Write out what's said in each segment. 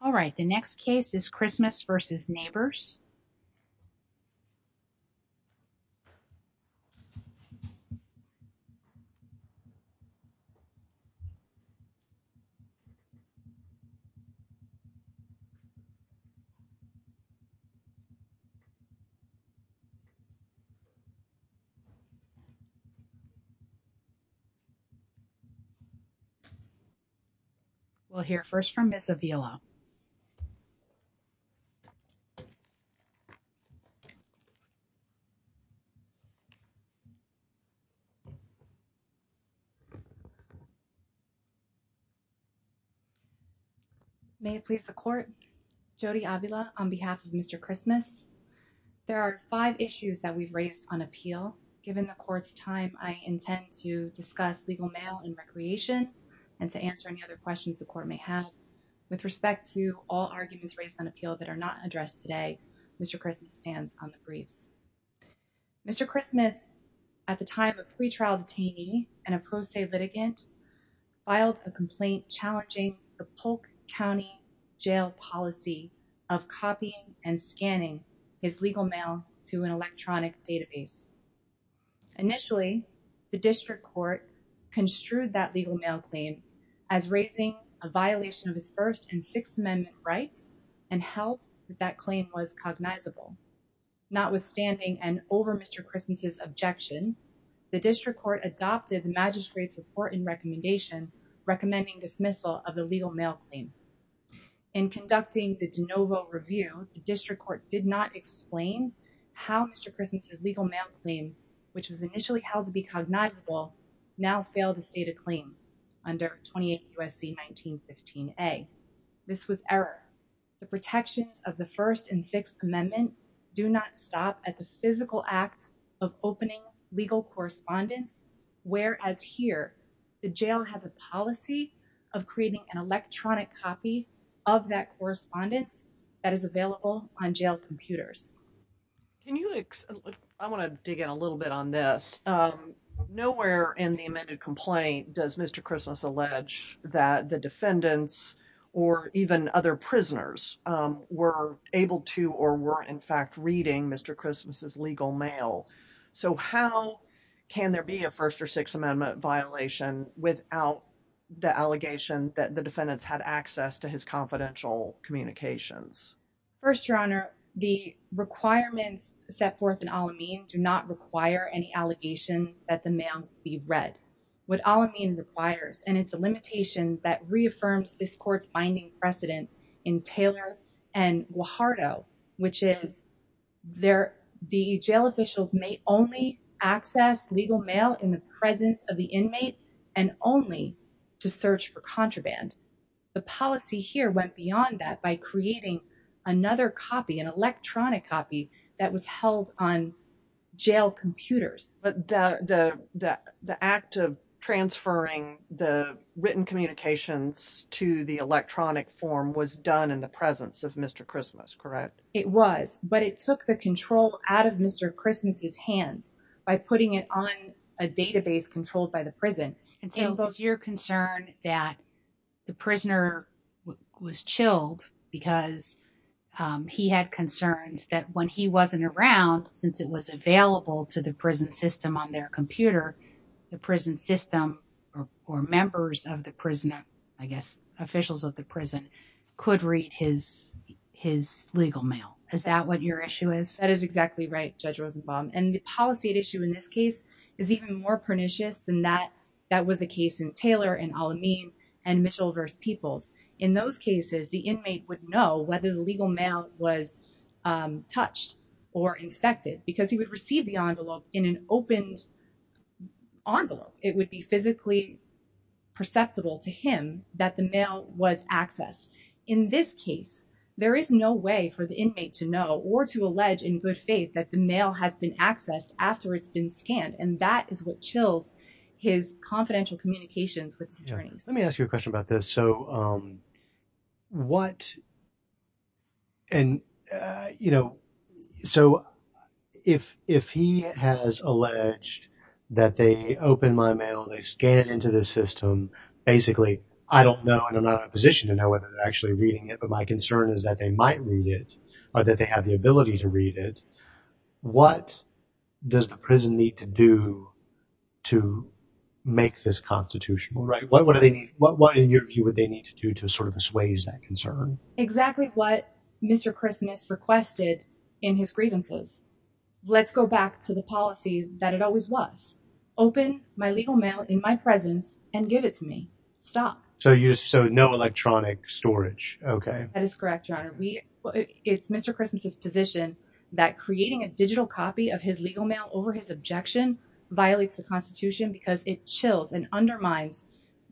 All right, the next case is Christmas v. Nabors We'll hear first from Ms. Avila. Ms. Avila, on behalf of Mr. Christmas, there are five issues that we've raised on appeal. Given the court's time, I intend to discuss legal mail and recreation and to answer any other questions the court may have. With respect to all arguments raised on appeal that are not addressed today, Mr. Christmas stands on the briefs. Mr. Christmas, at the time of pretrial detainee and a pro se litigant, filed a complaint challenging the Polk County Jail policy of copying and scanning his legal mail to an electronic database. Initially, the district court construed that legal mail claim as raising a violation of his First and Sixth Amendment rights and held that that claim was cognizable. Notwithstanding and over Mr. Christmas' objection, the district court adopted the magistrate's report and recommendation recommending dismissal of the legal mail claim. In conducting the de novo review, the district court did not explain how Mr. Christmas' legal mail claim, which was initially held to be cognizable, now failed to state a claim under 28 U.S.C. 1915A. This was error. The protections of the First and Sixth Amendment do not stop at the physical act of opening legal correspondence, whereas here, the jail has a policy of creating an electronic copy of that correspondence that is available on jail computers. Can you explain, I want to dig in a little bit on this. Nowhere in the amended complaint does Mr. Christmas allege that the defendants or even other prisoners were able to or were, in fact, reading Mr. Christmas' legal mail. So how can there be a First or Sixth Amendment violation without the allegation that the defendants had access to his confidential communications? First, Your Honor, the requirements set forth in Al-Amin do not require any allegation that the mail be read. What Al-Amin requires, and it's a limitation that reaffirms this court's binding precedent in Taylor and Guajardo, which is the jail officials may only access legal mail in the presence of the inmate and only to search for contraband. The policy here went beyond that by creating another copy, an electronic copy, that was held on jail computers. But the act of transferring the written communications to the electronic form was done in the presence of Mr. Christmas, correct? It was, but it took the control out of Mr. Christmas' hands by putting it on a database controlled by the prison. And so it was your concern that the prisoner was chilled because he had concerns that when he wasn't around, since it was available to the prison system on their computer, the prison system or members of the prison, I guess, officials of the prison could read his legal mail. Is that what your issue is? That is exactly right, Judge Rosenbaum, and the policy at issue in this case is even more That was the case in Taylor and Al-Amin and Mitchell v. Peoples. In those cases, the inmate would know whether the legal mail was touched or inspected because he would receive the envelope in an opened envelope. It would be physically perceptible to him that the mail was accessed. In this case, there is no way for the inmate to know or to allege in good faith that the with his attorneys. Let me ask you a question about this. So if he has alleged that they open my mail, they scan it into the system, basically, I don't know, and I'm not in a position to know whether they're actually reading it, but my concern is that they might read it or that they have the ability to read it. What does the prison need to do to make this constitutional? What do they need? What, in your view, would they need to do to sort of assuage that concern? Exactly what Mr. Christmas requested in his grievances. Let's go back to the policy that it always was. Open my legal mail in my presence and give it to me. So no electronic storage, okay. That is correct, Your Honor. It's Mr. Christmas's position that creating a digital copy of his legal mail over his objection violates the constitution because it chills and undermines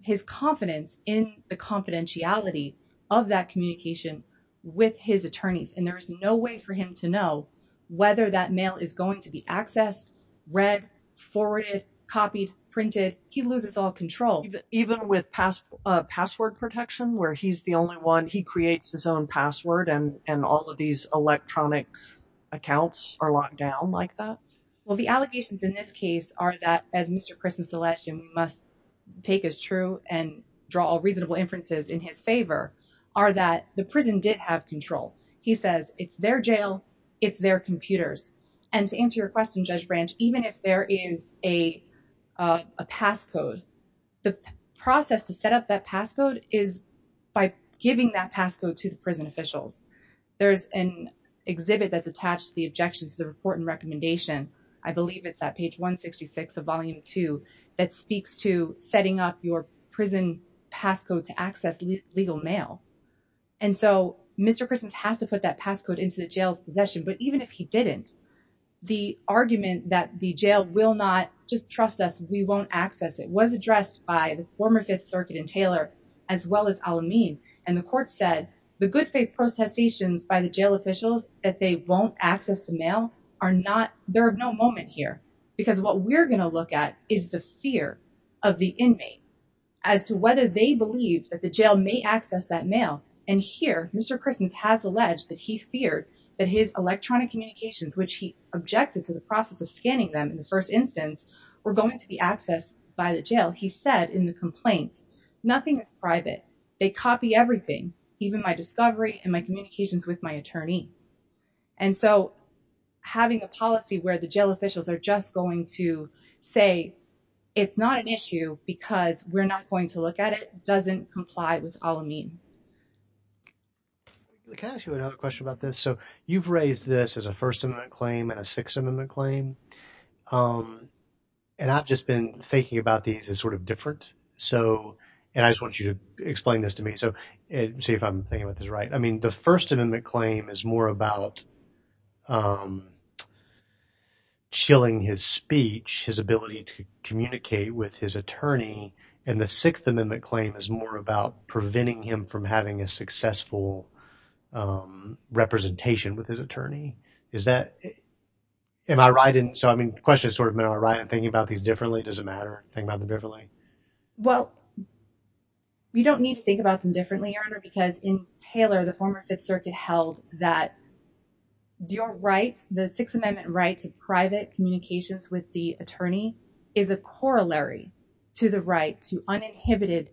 his confidence in the confidentiality of that communication with his attorneys. And there is no way for him to know whether that mail is going to be accessed, read, forwarded, copied, printed. He loses all control. Even with password protection, where he's the only one, he creates his own password and all of these electronic accounts are locked down like that? Well, the allegations in this case are that, as Mr. Christmas alleged and we must take as true and draw all reasonable inferences in his favor, are that the prison did have control. He says it's their jail, it's their computers. And to answer your question, Judge Branch, even if there is a passcode, the process to set up that passcode is by giving that passcode to the prison officials. There's an exhibit that's attached to the objections to the report and recommendation. I believe it's that page 166 of volume two that speaks to setting up your prison passcode to access legal mail. And so Mr. Christmas has to put that passcode into the jail's possession. But even if he didn't, the argument that the jail will not just trust us, we won't access it, was addressed by the former Fifth Circuit and Taylor, as well as Al-Amin. And the court said the good faith processations by the jail officials that they won't access the mail are not, there are no moment here. Because what we're going to look at is the fear of the inmate as to whether they believe that the jail may access that mail. And here, Mr. Christmas has alleged that he feared that his electronic communications, which he objected to the process of scanning them in the first instance, were going to be accessed by the jail. He said in the complaint, nothing is private. They copy everything, even my discovery and my communications with my attorney. And so having a policy where the jail officials are just going to say, it's not an issue because we're not going to look at it, doesn't comply with Al-Amin. Can I ask you another question about this? So you've raised this as a First Amendment claim and a Sixth Amendment claim. And I've just been thinking about these as sort of different. So and I just want you to explain this to me. So see if I'm thinking about this right. I mean, the First Amendment claim is more about chilling his speech, his ability to and the Sixth Amendment claim is more about preventing him from having a successful representation with his attorney. Is that. Am I right? And so, I mean, the question is sort of, am I right in thinking about these differently? Does it matter? Think about them differently. Well, you don't need to think about them differently, Your Honor, because in Taylor, the former Fifth Circuit held that your rights, the Sixth Amendment right to private communications with the attorney is a corollary to the right to uninhibited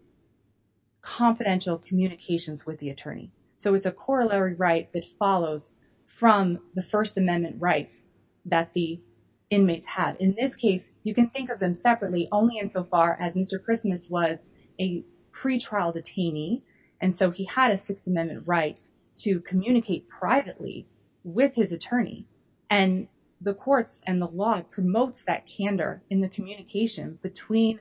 confidential communications with the attorney. So it's a corollary right that follows from the First Amendment rights that the inmates have. In this case, you can think of them separately only insofar as Mr. Christmas was a pretrial detainee. And so he had a Sixth Amendment right to communicate privately with his attorney. And the courts and the law promotes that candor in the communication between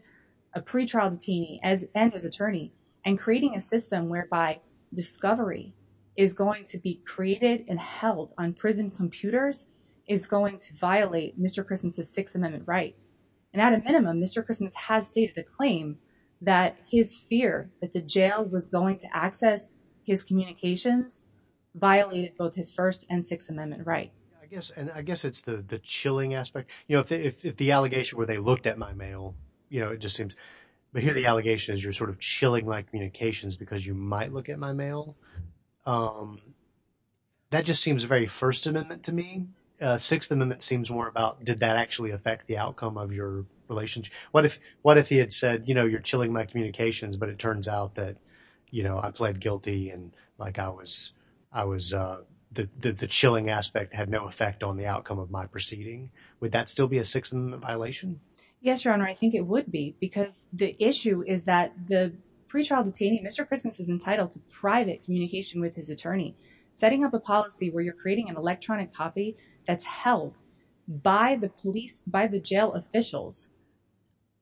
a pretrial detainee and his attorney and creating a system whereby discovery is going to be created and held on prison computers is going to violate Mr. Christmas's Sixth Amendment right. And at a minimum, Mr. Christmas has stated a claim that his fear that the jail was going to access his I guess and I guess it's the chilling aspect, you know, if the allegation where they looked at my mail, you know, it just seems to be here. The allegation is you're sort of chilling my communications because you might look at my mail. That just seems very First Amendment to me. Sixth Amendment seems more about did that actually affect the outcome of your relationship? What if what if he had said, you know, you're chilling my communications, but it turns out that, you know, I pled guilty and like I was I was the chilling aspect had no effect on the outcome of my proceeding. Would that still be a Sixth Amendment violation? Yes, your honor. I think it would be because the issue is that the pretrial detainee, Mr. Christmas is entitled to private communication with his attorney, setting up a policy where you're creating an electronic copy that's held by the police, by the jail officials.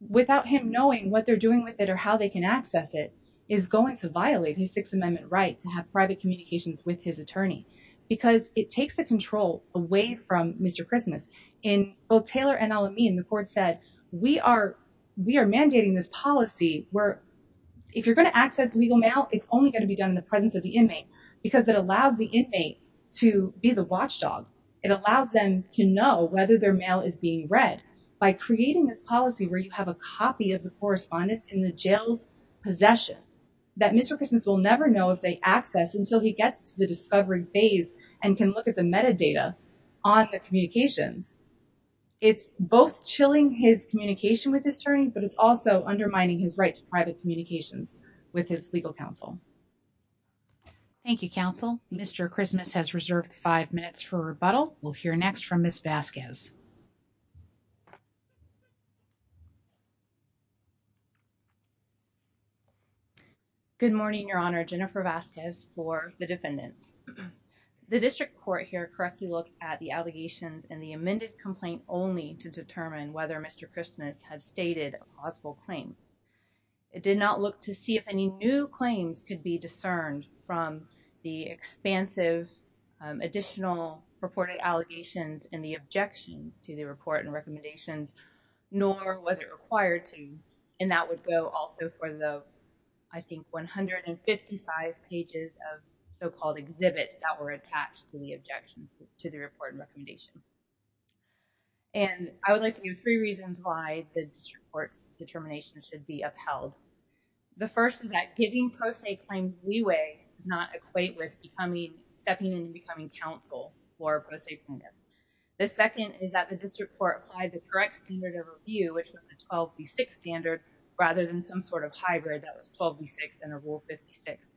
Without him knowing what they're doing with it or how they can access it is going to violate his Sixth Amendment right to have private communications with his attorney because it takes the control away from Mr. Christmas in both Taylor and Al-Amin, the court said we are we are mandating this policy where if you're going to access legal mail, it's only going to be done in the presence of the inmate because it allows the inmate to be the watchdog. It allows them to know whether their mail is being read by creating this policy where you have a copy of the correspondence in the jail's possession that Mr. Christmas will never know if they access until he gets to the discovery phase and can look at the metadata on the communications. It's both chilling his communication with his attorney, but it's also undermining his right to private communications with his legal counsel. Thank you, counsel. Mr. Christmas has reserved five minutes for rebuttal. We'll hear next from Miss Vasquez. Good morning, Your Honor, Jennifer Vasquez for the defendants, the district court here correctly look at the allegations in the amended complaint only to determine whether Mr. Christmas has stated a possible claim. It did not look to see if any new claims could be discerned from the expansive additional reported allegations and the objections to the report and recommendations, nor was it required to. And that would go also for the, I think, one hundred and fifty five pages of so-called exhibits that were attached to the objection to the report and recommendation. And I would like to give three reasons why the district court's determination should be upheld. The first is that giving pro se claims leeway does not equate with becoming stepping in and becoming counsel for a pro se plaintiff. The second is that the district court applied the correct standard of review, which was the twelve to six standard rather than some sort of hybrid that was twelve to six and a rule fifty six.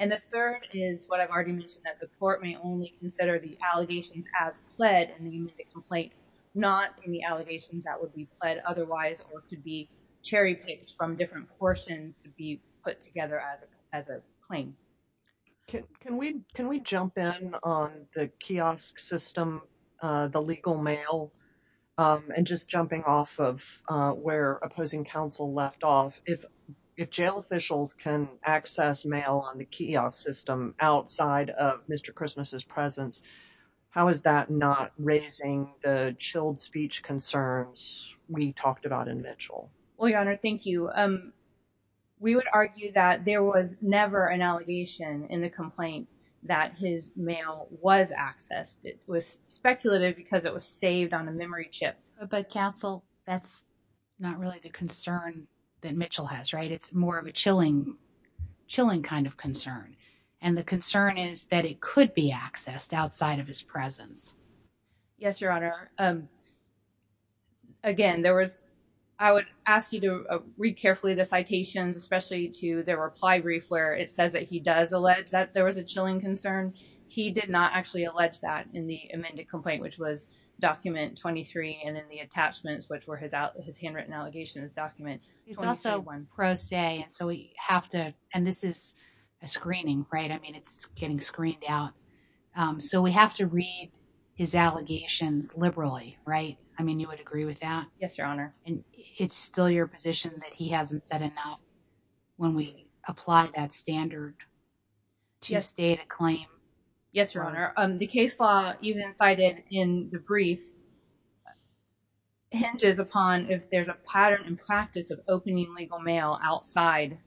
And the third is what I've already mentioned, that the court may only consider the complaint, not the allegations that would be pled otherwise or could be cherry picked from different portions to be put together as as a claim. Can we can we jump in on the kiosk system, the legal mail and just jumping off of where opposing counsel left off? If if jail officials can access mail on the kiosk system outside of Mr. Christmas's presence, how is that not raising the chilled speech concerns we talked about in Mitchell? Well, your honor, thank you. We would argue that there was never an allegation in the complaint that his mail was accessed. It was speculative because it was saved on a memory chip. But counsel, that's not really the concern that Mitchell has. Right. It's more of a chilling, chilling kind of concern. And the concern is that it could be accessed outside of his presence. Yes, your honor. Again, there was I would ask you to read carefully the citations, especially to the reply brief where it says that he does allege that there was a chilling concern. He did not actually allege that in the amended complaint, which was document twenty three. And then the attachments, which were his out his handwritten allegations document. He's also one pro se. And so we have to and this is a screening, right? I mean, it's getting screened out. So we have to read his allegations liberally. Right. I mean, you would agree with that. Yes, your honor. And it's still your position that he hasn't said it now when we apply that standard. Just a claim. Yes, your honor. The case law even cited in the brief. Hinges upon if there's a pattern and practice of opening legal mail outside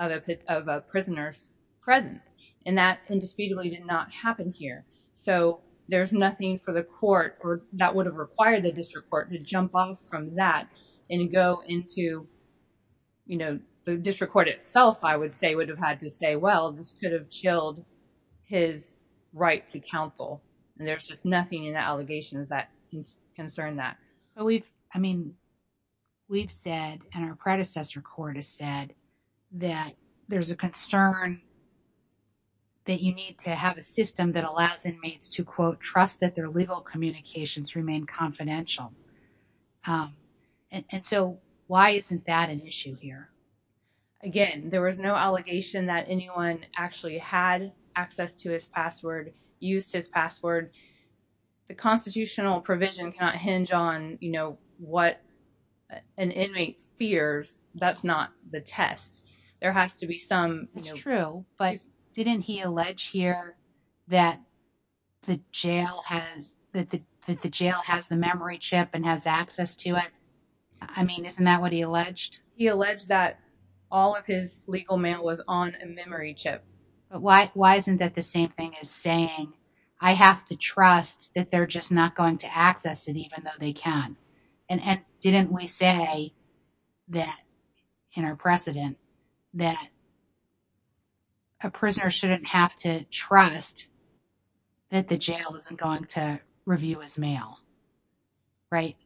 of a prisoner's presence and that indisputably did not happen here. So there's nothing for the court that would have required the district court to jump off from that and go into, you know, the district court itself, I would say, would have had to say, well, this could have chilled his right to counsel. And there's just nothing in the allegations that concern that we've I mean, we've said and our predecessor court has said that there's a concern. That you need to have a system that allows inmates to, quote, trust that their legal communications remain confidential. And so why isn't that an issue here? Again, there was no allegation that anyone actually had access to his password, used his password. The constitutional provision can't hinge on, you know, what an inmate fears. That's not the test. There has to be some. It's true. But didn't he allege here that the jail has that the jail has the memory chip and has access to it? I mean, isn't that what he alleged? He alleged that all of his legal mail was on a memory chip. But why? Why isn't that the same thing as saying I have to trust that they're just not going to access it, even though they can. And didn't we say that in our precedent that. A prisoner shouldn't have to trust. That the jail isn't going to review his mail. Right.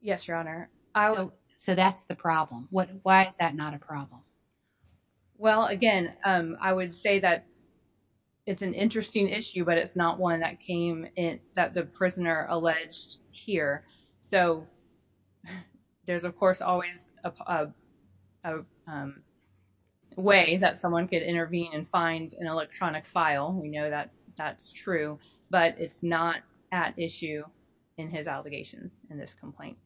Yes, your honor. I will. So that's the problem. What? Why is that not a problem? Well, again, I would say that it's an interesting issue, but it's not one that came in that the prisoner alleged here. So there's, of course, always a way that someone could intervene and find an electronic file. We know that that's true, but it's not at issue in his allegations in this complaint.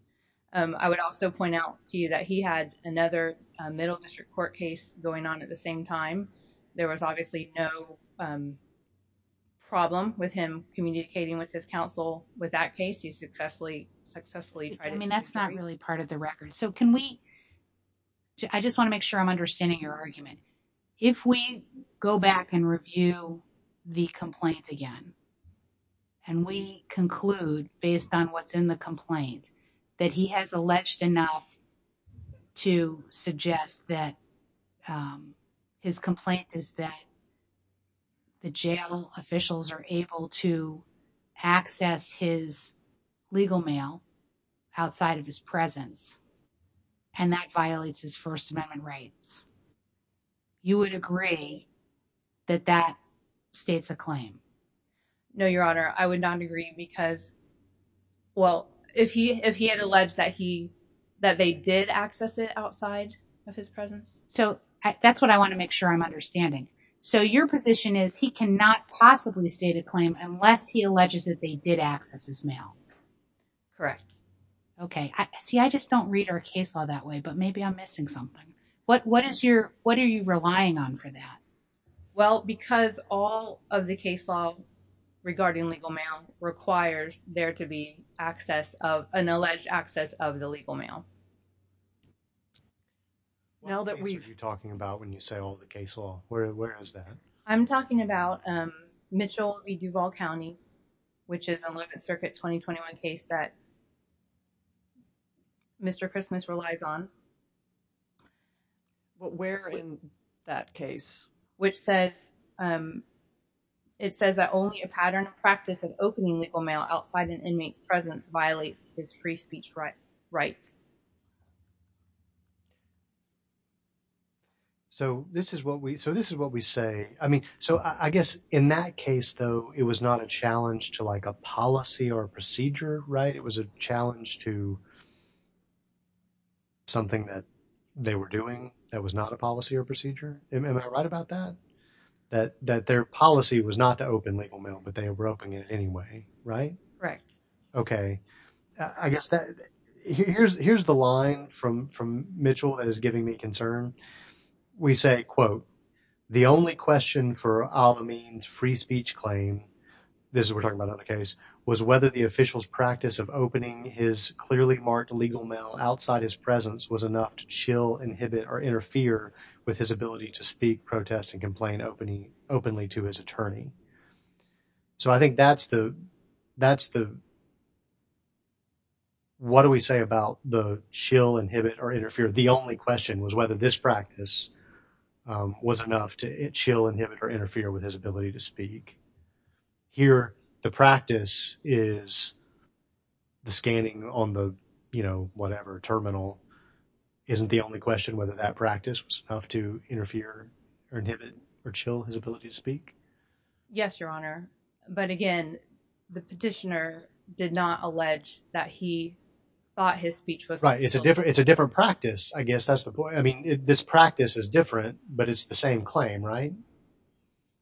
I would also point out to you that he had another middle district court case going on at the same time. There was obviously no problem with him communicating with his counsel with that case. He successfully, successfully. I mean, that's not really part of the record. So can we. I just want to make sure I'm understanding your argument. If we go back and review the complaint again. And we conclude based on what's in the complaint that he has alleged enough to suggest that his complaint is that. The jail officials are able to access his legal mail outside of his presence and that violates his First Amendment rights. You would agree that that states a claim? No, your honor, I would not agree because. Well, if he if he had alleged that he that they did access it outside of his presence. So that's what I want to make sure I'm understanding. So your position is he cannot possibly state a claim unless he alleges that they did access his mail. Correct. OK, see, I just don't read our case law that way, but maybe I'm missing something. What what is your what are you relying on for that? Well, because all of the case law regarding legal mail requires there to be access of an alleged access of the legal mail. Now that we're talking about when you say all the case law, where is that? I'm talking about Mitchell Duval County, which is a circuit 2021 case that. Mr. Christmas relies on. But where in that case, which says it says that only a pattern of practice of opening legal mail outside an inmate's presence violates his free speech rights. So this is what we so this is what we say, I mean, so I guess in that case, though, it was not a challenge to like a policy or a procedure, right? It was a challenge to. Something that they were doing that was not a policy or procedure, am I right about that, that that their policy was not to open legal mail, but they were opening it anyway, right? Right. OK, I guess that here's here's the line from from Mitchell that is giving me concern. We say, quote, the only question for all the means free speech claim, this we're talking about on the case, was whether the officials practice of opening his clearly marked legal mail outside his presence was enough to chill, inhibit or interfere with his ability to speak, protest and complain openly openly to his attorney. So I think that's the that's the. What do we say about the chill, inhibit or interfere, the only question was whether this practice was enough to chill, inhibit or interfere with his ability to speak here. The practice is. The scanning on the, you know, whatever terminal isn't the only question, whether that practice was enough to interfere or inhibit or chill his ability to speak. Yes, your honor. But again, the petitioner did not allege that he thought his speech was right. It's a different it's a different practice, I guess. That's the point. I mean, this practice is different, but it's the same claim. Right.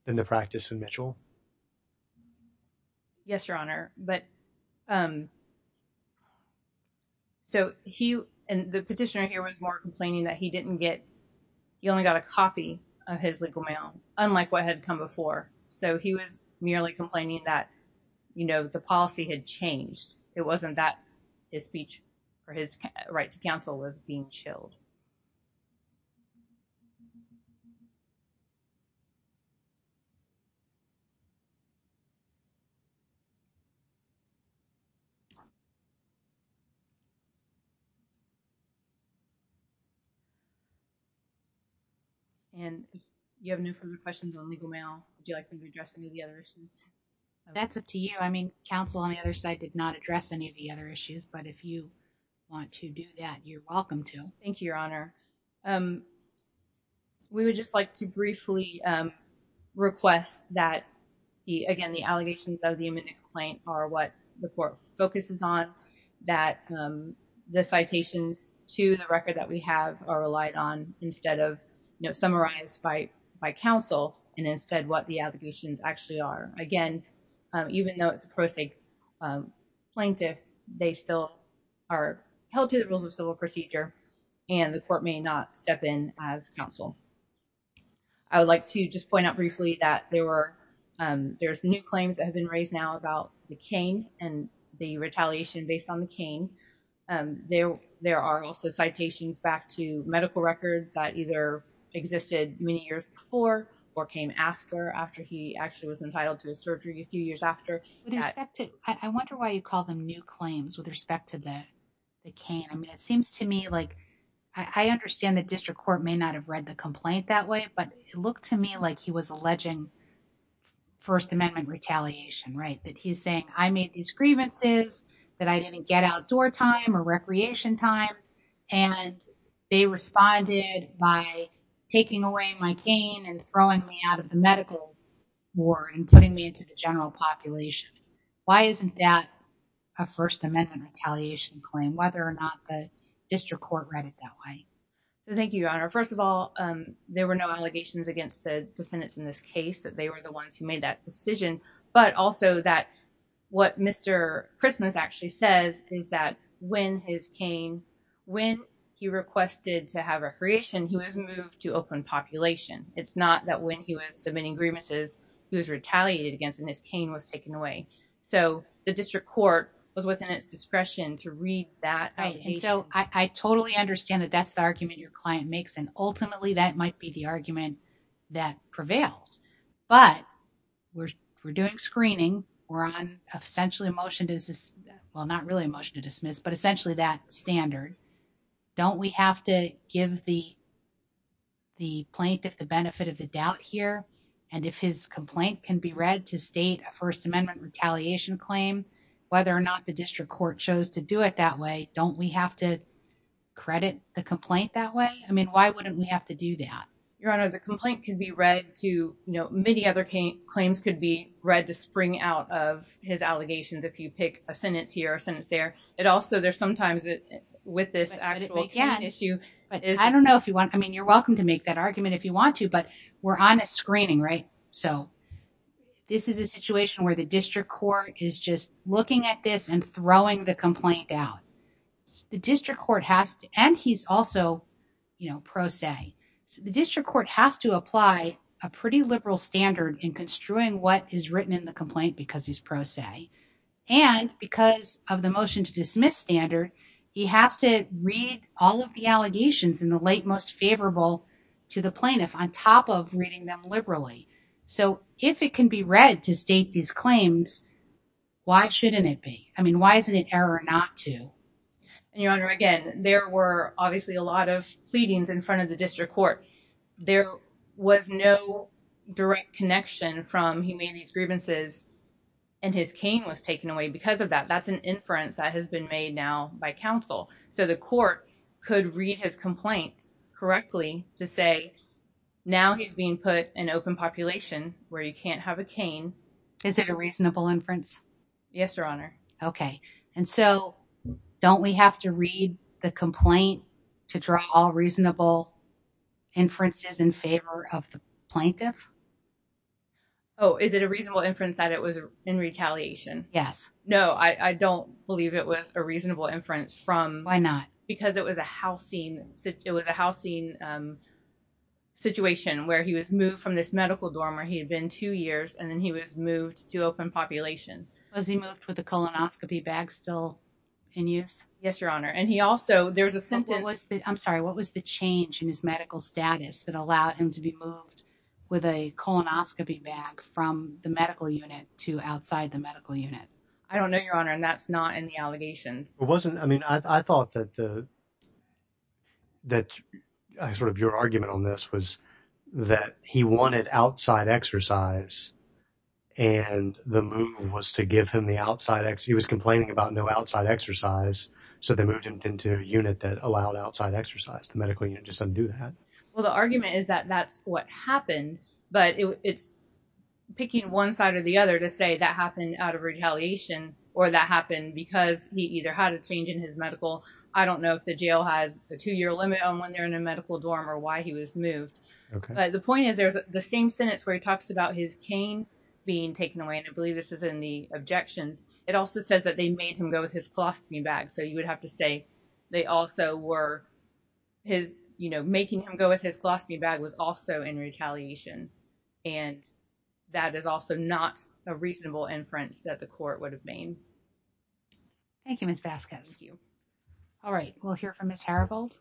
In the practice in Mitchell. Yes, your honor, but. So he and the petitioner here was more complaining that he didn't get you only got a copy of his legal mail, unlike what had come before. So he was merely complaining that, you know, the policy had changed. It wasn't that his speech or his right to counsel was being chilled. And you have no further questions on legal mail, do you like to address any of the other issues? That's up to you. I mean, counsel on the other side did not address any of the other issues. But if you want to do that, you're welcome to. Thank you, your honor. We would just like to briefly address a few of the issues that we have as of right now. That are in this case. That actually. Request that. Again, the allegations of the imminent claim are what the court focuses on. That the citations to the record that we have are relied on instead of. No summarized by by counsel and instead what the allegations actually are again. Even though it's a prosaic. Plaintiff. They still are held to the rules of civil procedure. And the court may not step in as counsel. I would like to just point out briefly that there were. There's new claims that have been raised now about the cane and the retaliation based on the cane. There, there are also citations back to medical records that either. Existed many years before or came after, after he actually was entitled to a surgery a few years after. I wonder why you call them new claims with respect to that. The cane. I mean, it seems to me like. I understand the district court may not have read the complaint that way, but it looked to me like he was alleging. First amendment retaliation, right? That he's saying, I made these grievances. That I didn't get outdoor time or recreation time. And they responded by. Taking away my cane and throwing me out of the medical. Ward and putting me into the general population. Why isn't that. A first amendment retaliation claim, whether or not the district court read it that way. Thank you, your honor. First of all, There were no allegations against the defendants in this case that they were the ones who made that decision, but also that. What Mr. Christmas actually says is that when his cane. When he requested to have a creation who has moved to open population. It's not that when he was submitting grievances, he was retaliated against and his cane was taken away. So the district court was within its discretion to read that. So I totally understand that that's the argument your client makes. And ultimately that might be the argument. That prevails, but. We're we're doing screening. We're on essentially a motion. Well, not really a motion to dismiss, but essentially that standard. Don't we have to give the. The plaintiff the benefit of the doubt here. And if his complaint can be read to state a first amendment retaliation claim. Whether or not the district court chose to do it that way. Don't we have to. Credit the complaint that way. I mean, why wouldn't we have to do that? Your honor, the complaint can be read to, you know, many other claims could be read to spring out of his allegations. If you pick a sentence here, a sentence there. It also there's sometimes with this actual issue. I don't know if you want, I mean, you're welcome to make that argument if you want to, but we're on a screening, right? So. This is a situation where the district court is just looking at this and throwing the complaint out. The district court has to, and he's also. You know, pro se. The district court has to apply a pretty liberal standard in construing what is written in the complaint because he's pro se. And because of the motion to dismiss standard. He has to read all of the allegations in the late, most favorable to the plaintiff on top of reading them liberally. So if it can be read to state these claims. Why shouldn't it be? I mean, why isn't it error not to. And your honor, again, there were obviously a lot of pleadings in front of the district court. There was no direct connection from he made these grievances. And his cane was taken away because of that. That's an inference that has been made now by council. So the court could read his complaint correctly to say. Now he's being put in open population where you can't have a cane. Is it a reasonable inference? Yes, your honor. Okay. And so don't we have to read the complaint to draw reasonable. Inferences in favor of the plaintiff. Oh, is it a reasonable inference that it was in retaliation? Yes. No. I don't believe it was a reasonable inference from why not? Because it was a housing. It was a housing. Situation where he was moved from this medical dorm where he had been two years and then he was moved to open population. Was he moved with a colonoscopy bag still in use? Yes, your honor. And he also, there was a sentence. I'm sorry. What was the change in his medical status that allowed him to be moved with a colonoscopy bag from the medical unit to outside the medical unit? I don't know your honor. And that's not in the allegations. It wasn't. I mean, I thought that the, that sort of your argument on this was that he wanted outside exercise and the move was to give him the outside. He was complaining about no outside exercise. So they moved him into a unit that allowed outside exercise. The medical unit just doesn't do that. Well, the argument is that that's what happened, but it's picking one side or the other to say that happened out of retaliation or that happened because he either had a change in his medical, I don't know if the jail has the two year limit on when they're in a medical dorm or why he was moved. But the point is there's the same sentence where he talks about his cane being taken away. And I believe this is in the objections. It also says that they made him go with his philosophy bag. So you would have to say they also were his, you know, making him go with his philosophy bag was also in retaliation. And that is also not a reasonable inference that the court would have been. Thank you, Ms. Vasquez. All right. We'll hear from Ms. Haribold.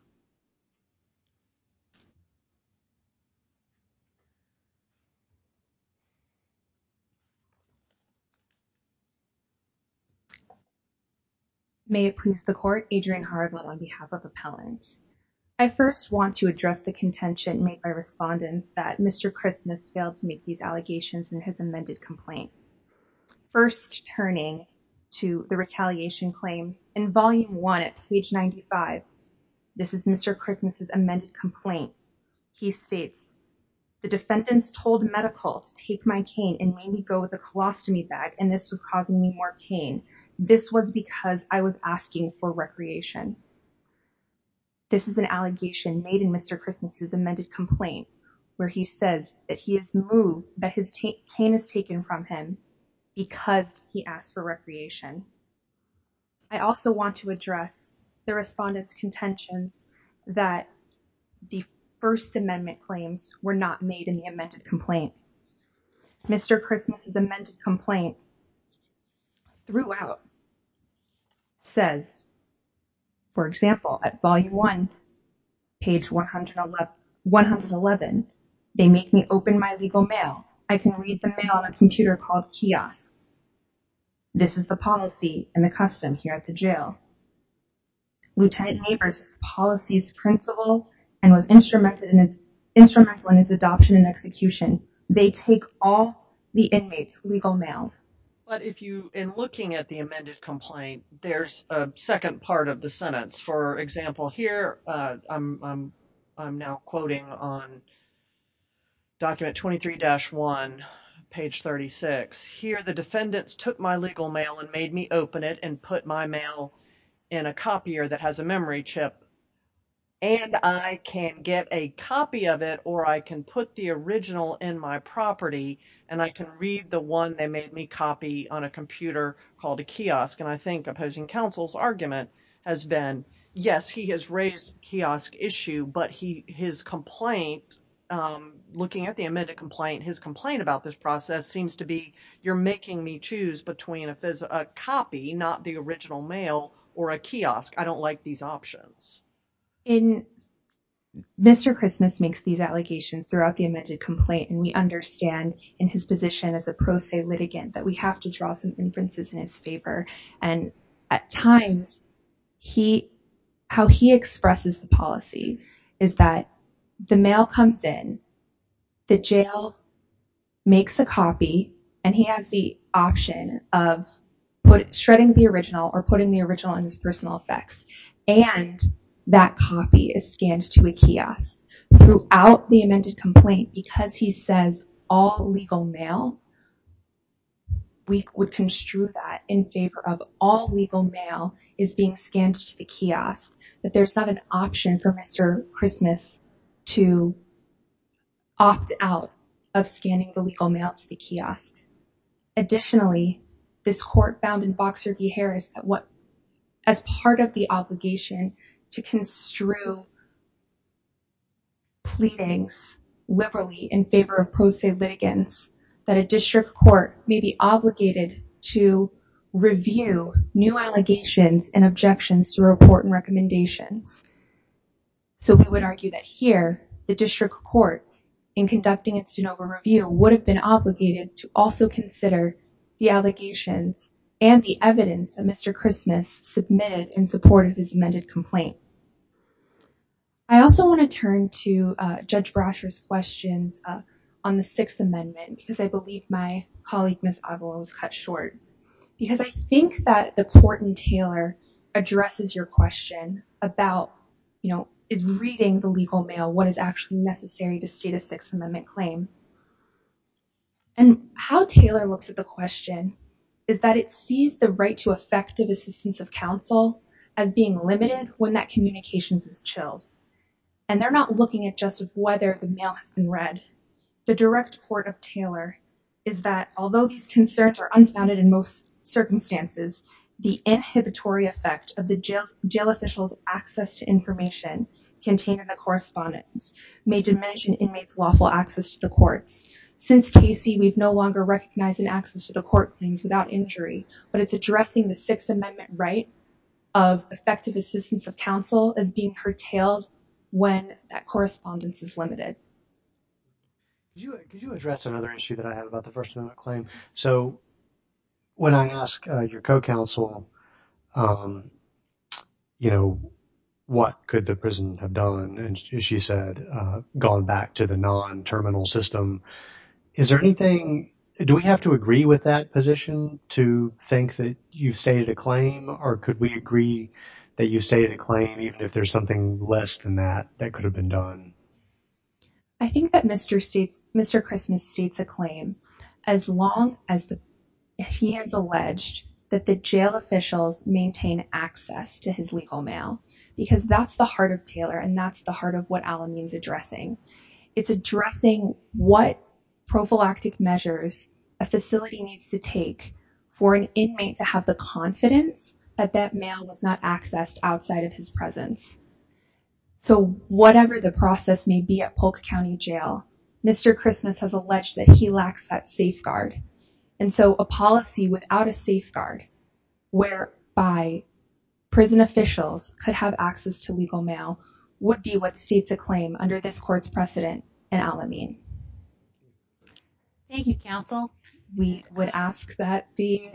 May it please the court Adrian Haribold on behalf of appellants. I first want to address the contention made by respondents that Mr. Christmas failed to make these allegations in his amended complaint. First turning to the retaliation claim in volume one at page 95, this is Mr. Christmas's amended complaint. He states, the defendants told medical to take my cane and made me go with a colostomy bag. And this was causing me more pain. This was because I was asking for recreation. This is an allegation made in Mr. Christmas's amended complaint where he says that he has moved, that his cane is taken from him because he asked for recreation. I also want to address the respondents contentions that the first amendment claims were not made in the amended complaint. Mr. Christmas's amended complaint throughout says, for example, at volume one, page 111, they make me open my legal mail. I can read the mail on a computer called kiosk. This is the policy and the custom here at the jail. Lieutenant neighbors policies principle and was instrumented in instrumental in his adoption and execution. They take all the inmates legal mail. But if you in looking at the amended complaint, there's a second part of the sentence. For example, here I'm, I'm now quoting on document 23 dash one page 36 here. The defendants took my legal mail and made me open it and put my mail in a copier that has a memory chip. And I can get a copy of it or I can put the original in my property and I can read the one they made me copy on a computer called a kiosk. And I think opposing counsel's argument has been, yes, he has raised kiosk issue, but he, his complaint, I'm looking at the amended complaint. His complaint about this process seems to be, you're making me choose between a copy, not the original mail or a kiosk. I don't like these options. Mr. Christmas makes these allegations throughout the amended complaint. And we understand in his position as a pro se litigant that we have to draw some inferences in his favor. And at times he, how he expresses the policy is that the mail comes in, the jail makes a copy and he has the option of shredding the original or putting the original in his personal effects. And that copy is scanned to a kiosk throughout the amended complaint because he says all legal mail, we would construe that in favor of all legal mail is being scanned to the kiosk that there's not an option for Mr. Christmas to opt out of scanning the legal mail to the kiosk. Additionally, this court found in Boxer v. Harris, as part of the obligation to construe pleadings liberally in favor of pro se litigants, that a district court may be obligated to review new allegations and objections to report and recommendations. So we would argue that here the district court in conducting its de novo review would have been obligated to also consider the allegations and the evidence that Mr. Christmas submitted in support of his amended complaint. I also want to turn to Judge Brasher's questions on the sixth amendment because I believe my colleague, Ms. Aguilar was cut short because I think that the court in Taylor addresses your question about, you know, is reading the legal mail, what is actually necessary to state a sixth amendment claim and how Taylor looks at the question is that it sees the right to effective assistance of counsel. And it sees the right to effective assistance of counsel as being her child. And they're not looking at just whether the mail has been read. The direct port of Taylor is that although these concerns are unfounded in most circumstances, the inhibitory effect of the jail's jail officials, access to information contained in the correspondence may diminish an inmate's lawful access to the courts. Since Casey, we've no longer recognized an access to the court claims without injury, but it's addressing the sixth amendment right of effective assistance of counsel as being curtailed when that correspondence is limited. Could you address another issue that I have about the first amendment claim? So when I ask your co-counsel, you know, what could the prison have done? And she said, you know, the prison has gone back to the non-terminal system. Is there anything, do we have to agree with that position to think that you've stated a claim? Or could we agree that you say the claim, even if there's something less than that, that could have been done? I think that Mr. Christmas states a claim as long as he has alleged that the jail officials maintain access to his legal mail, because that's the heart of Taylor. And that's the heart of what Alan means addressing. It's addressing what prophylactic measures a facility needs to take for an inmate to have the confidence that that mail was not accessed outside of his presence. So whatever the process may be at Polk County jail, Mr. Christmas has alleged that he lacks that safeguard. And so a policy without a safeguard where by prison officials could have would be what states a claim under this court's precedent and Alan mean. Thank you, counsel. We would ask that the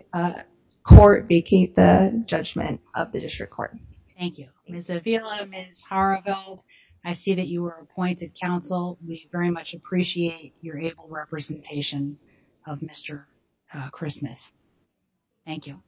court be keep the judgment of the district court. Thank you. Ms. Avila, Ms. Harville. I see that you were appointed counsel. We very much appreciate your able representation of Mr. Christmas. Thank you.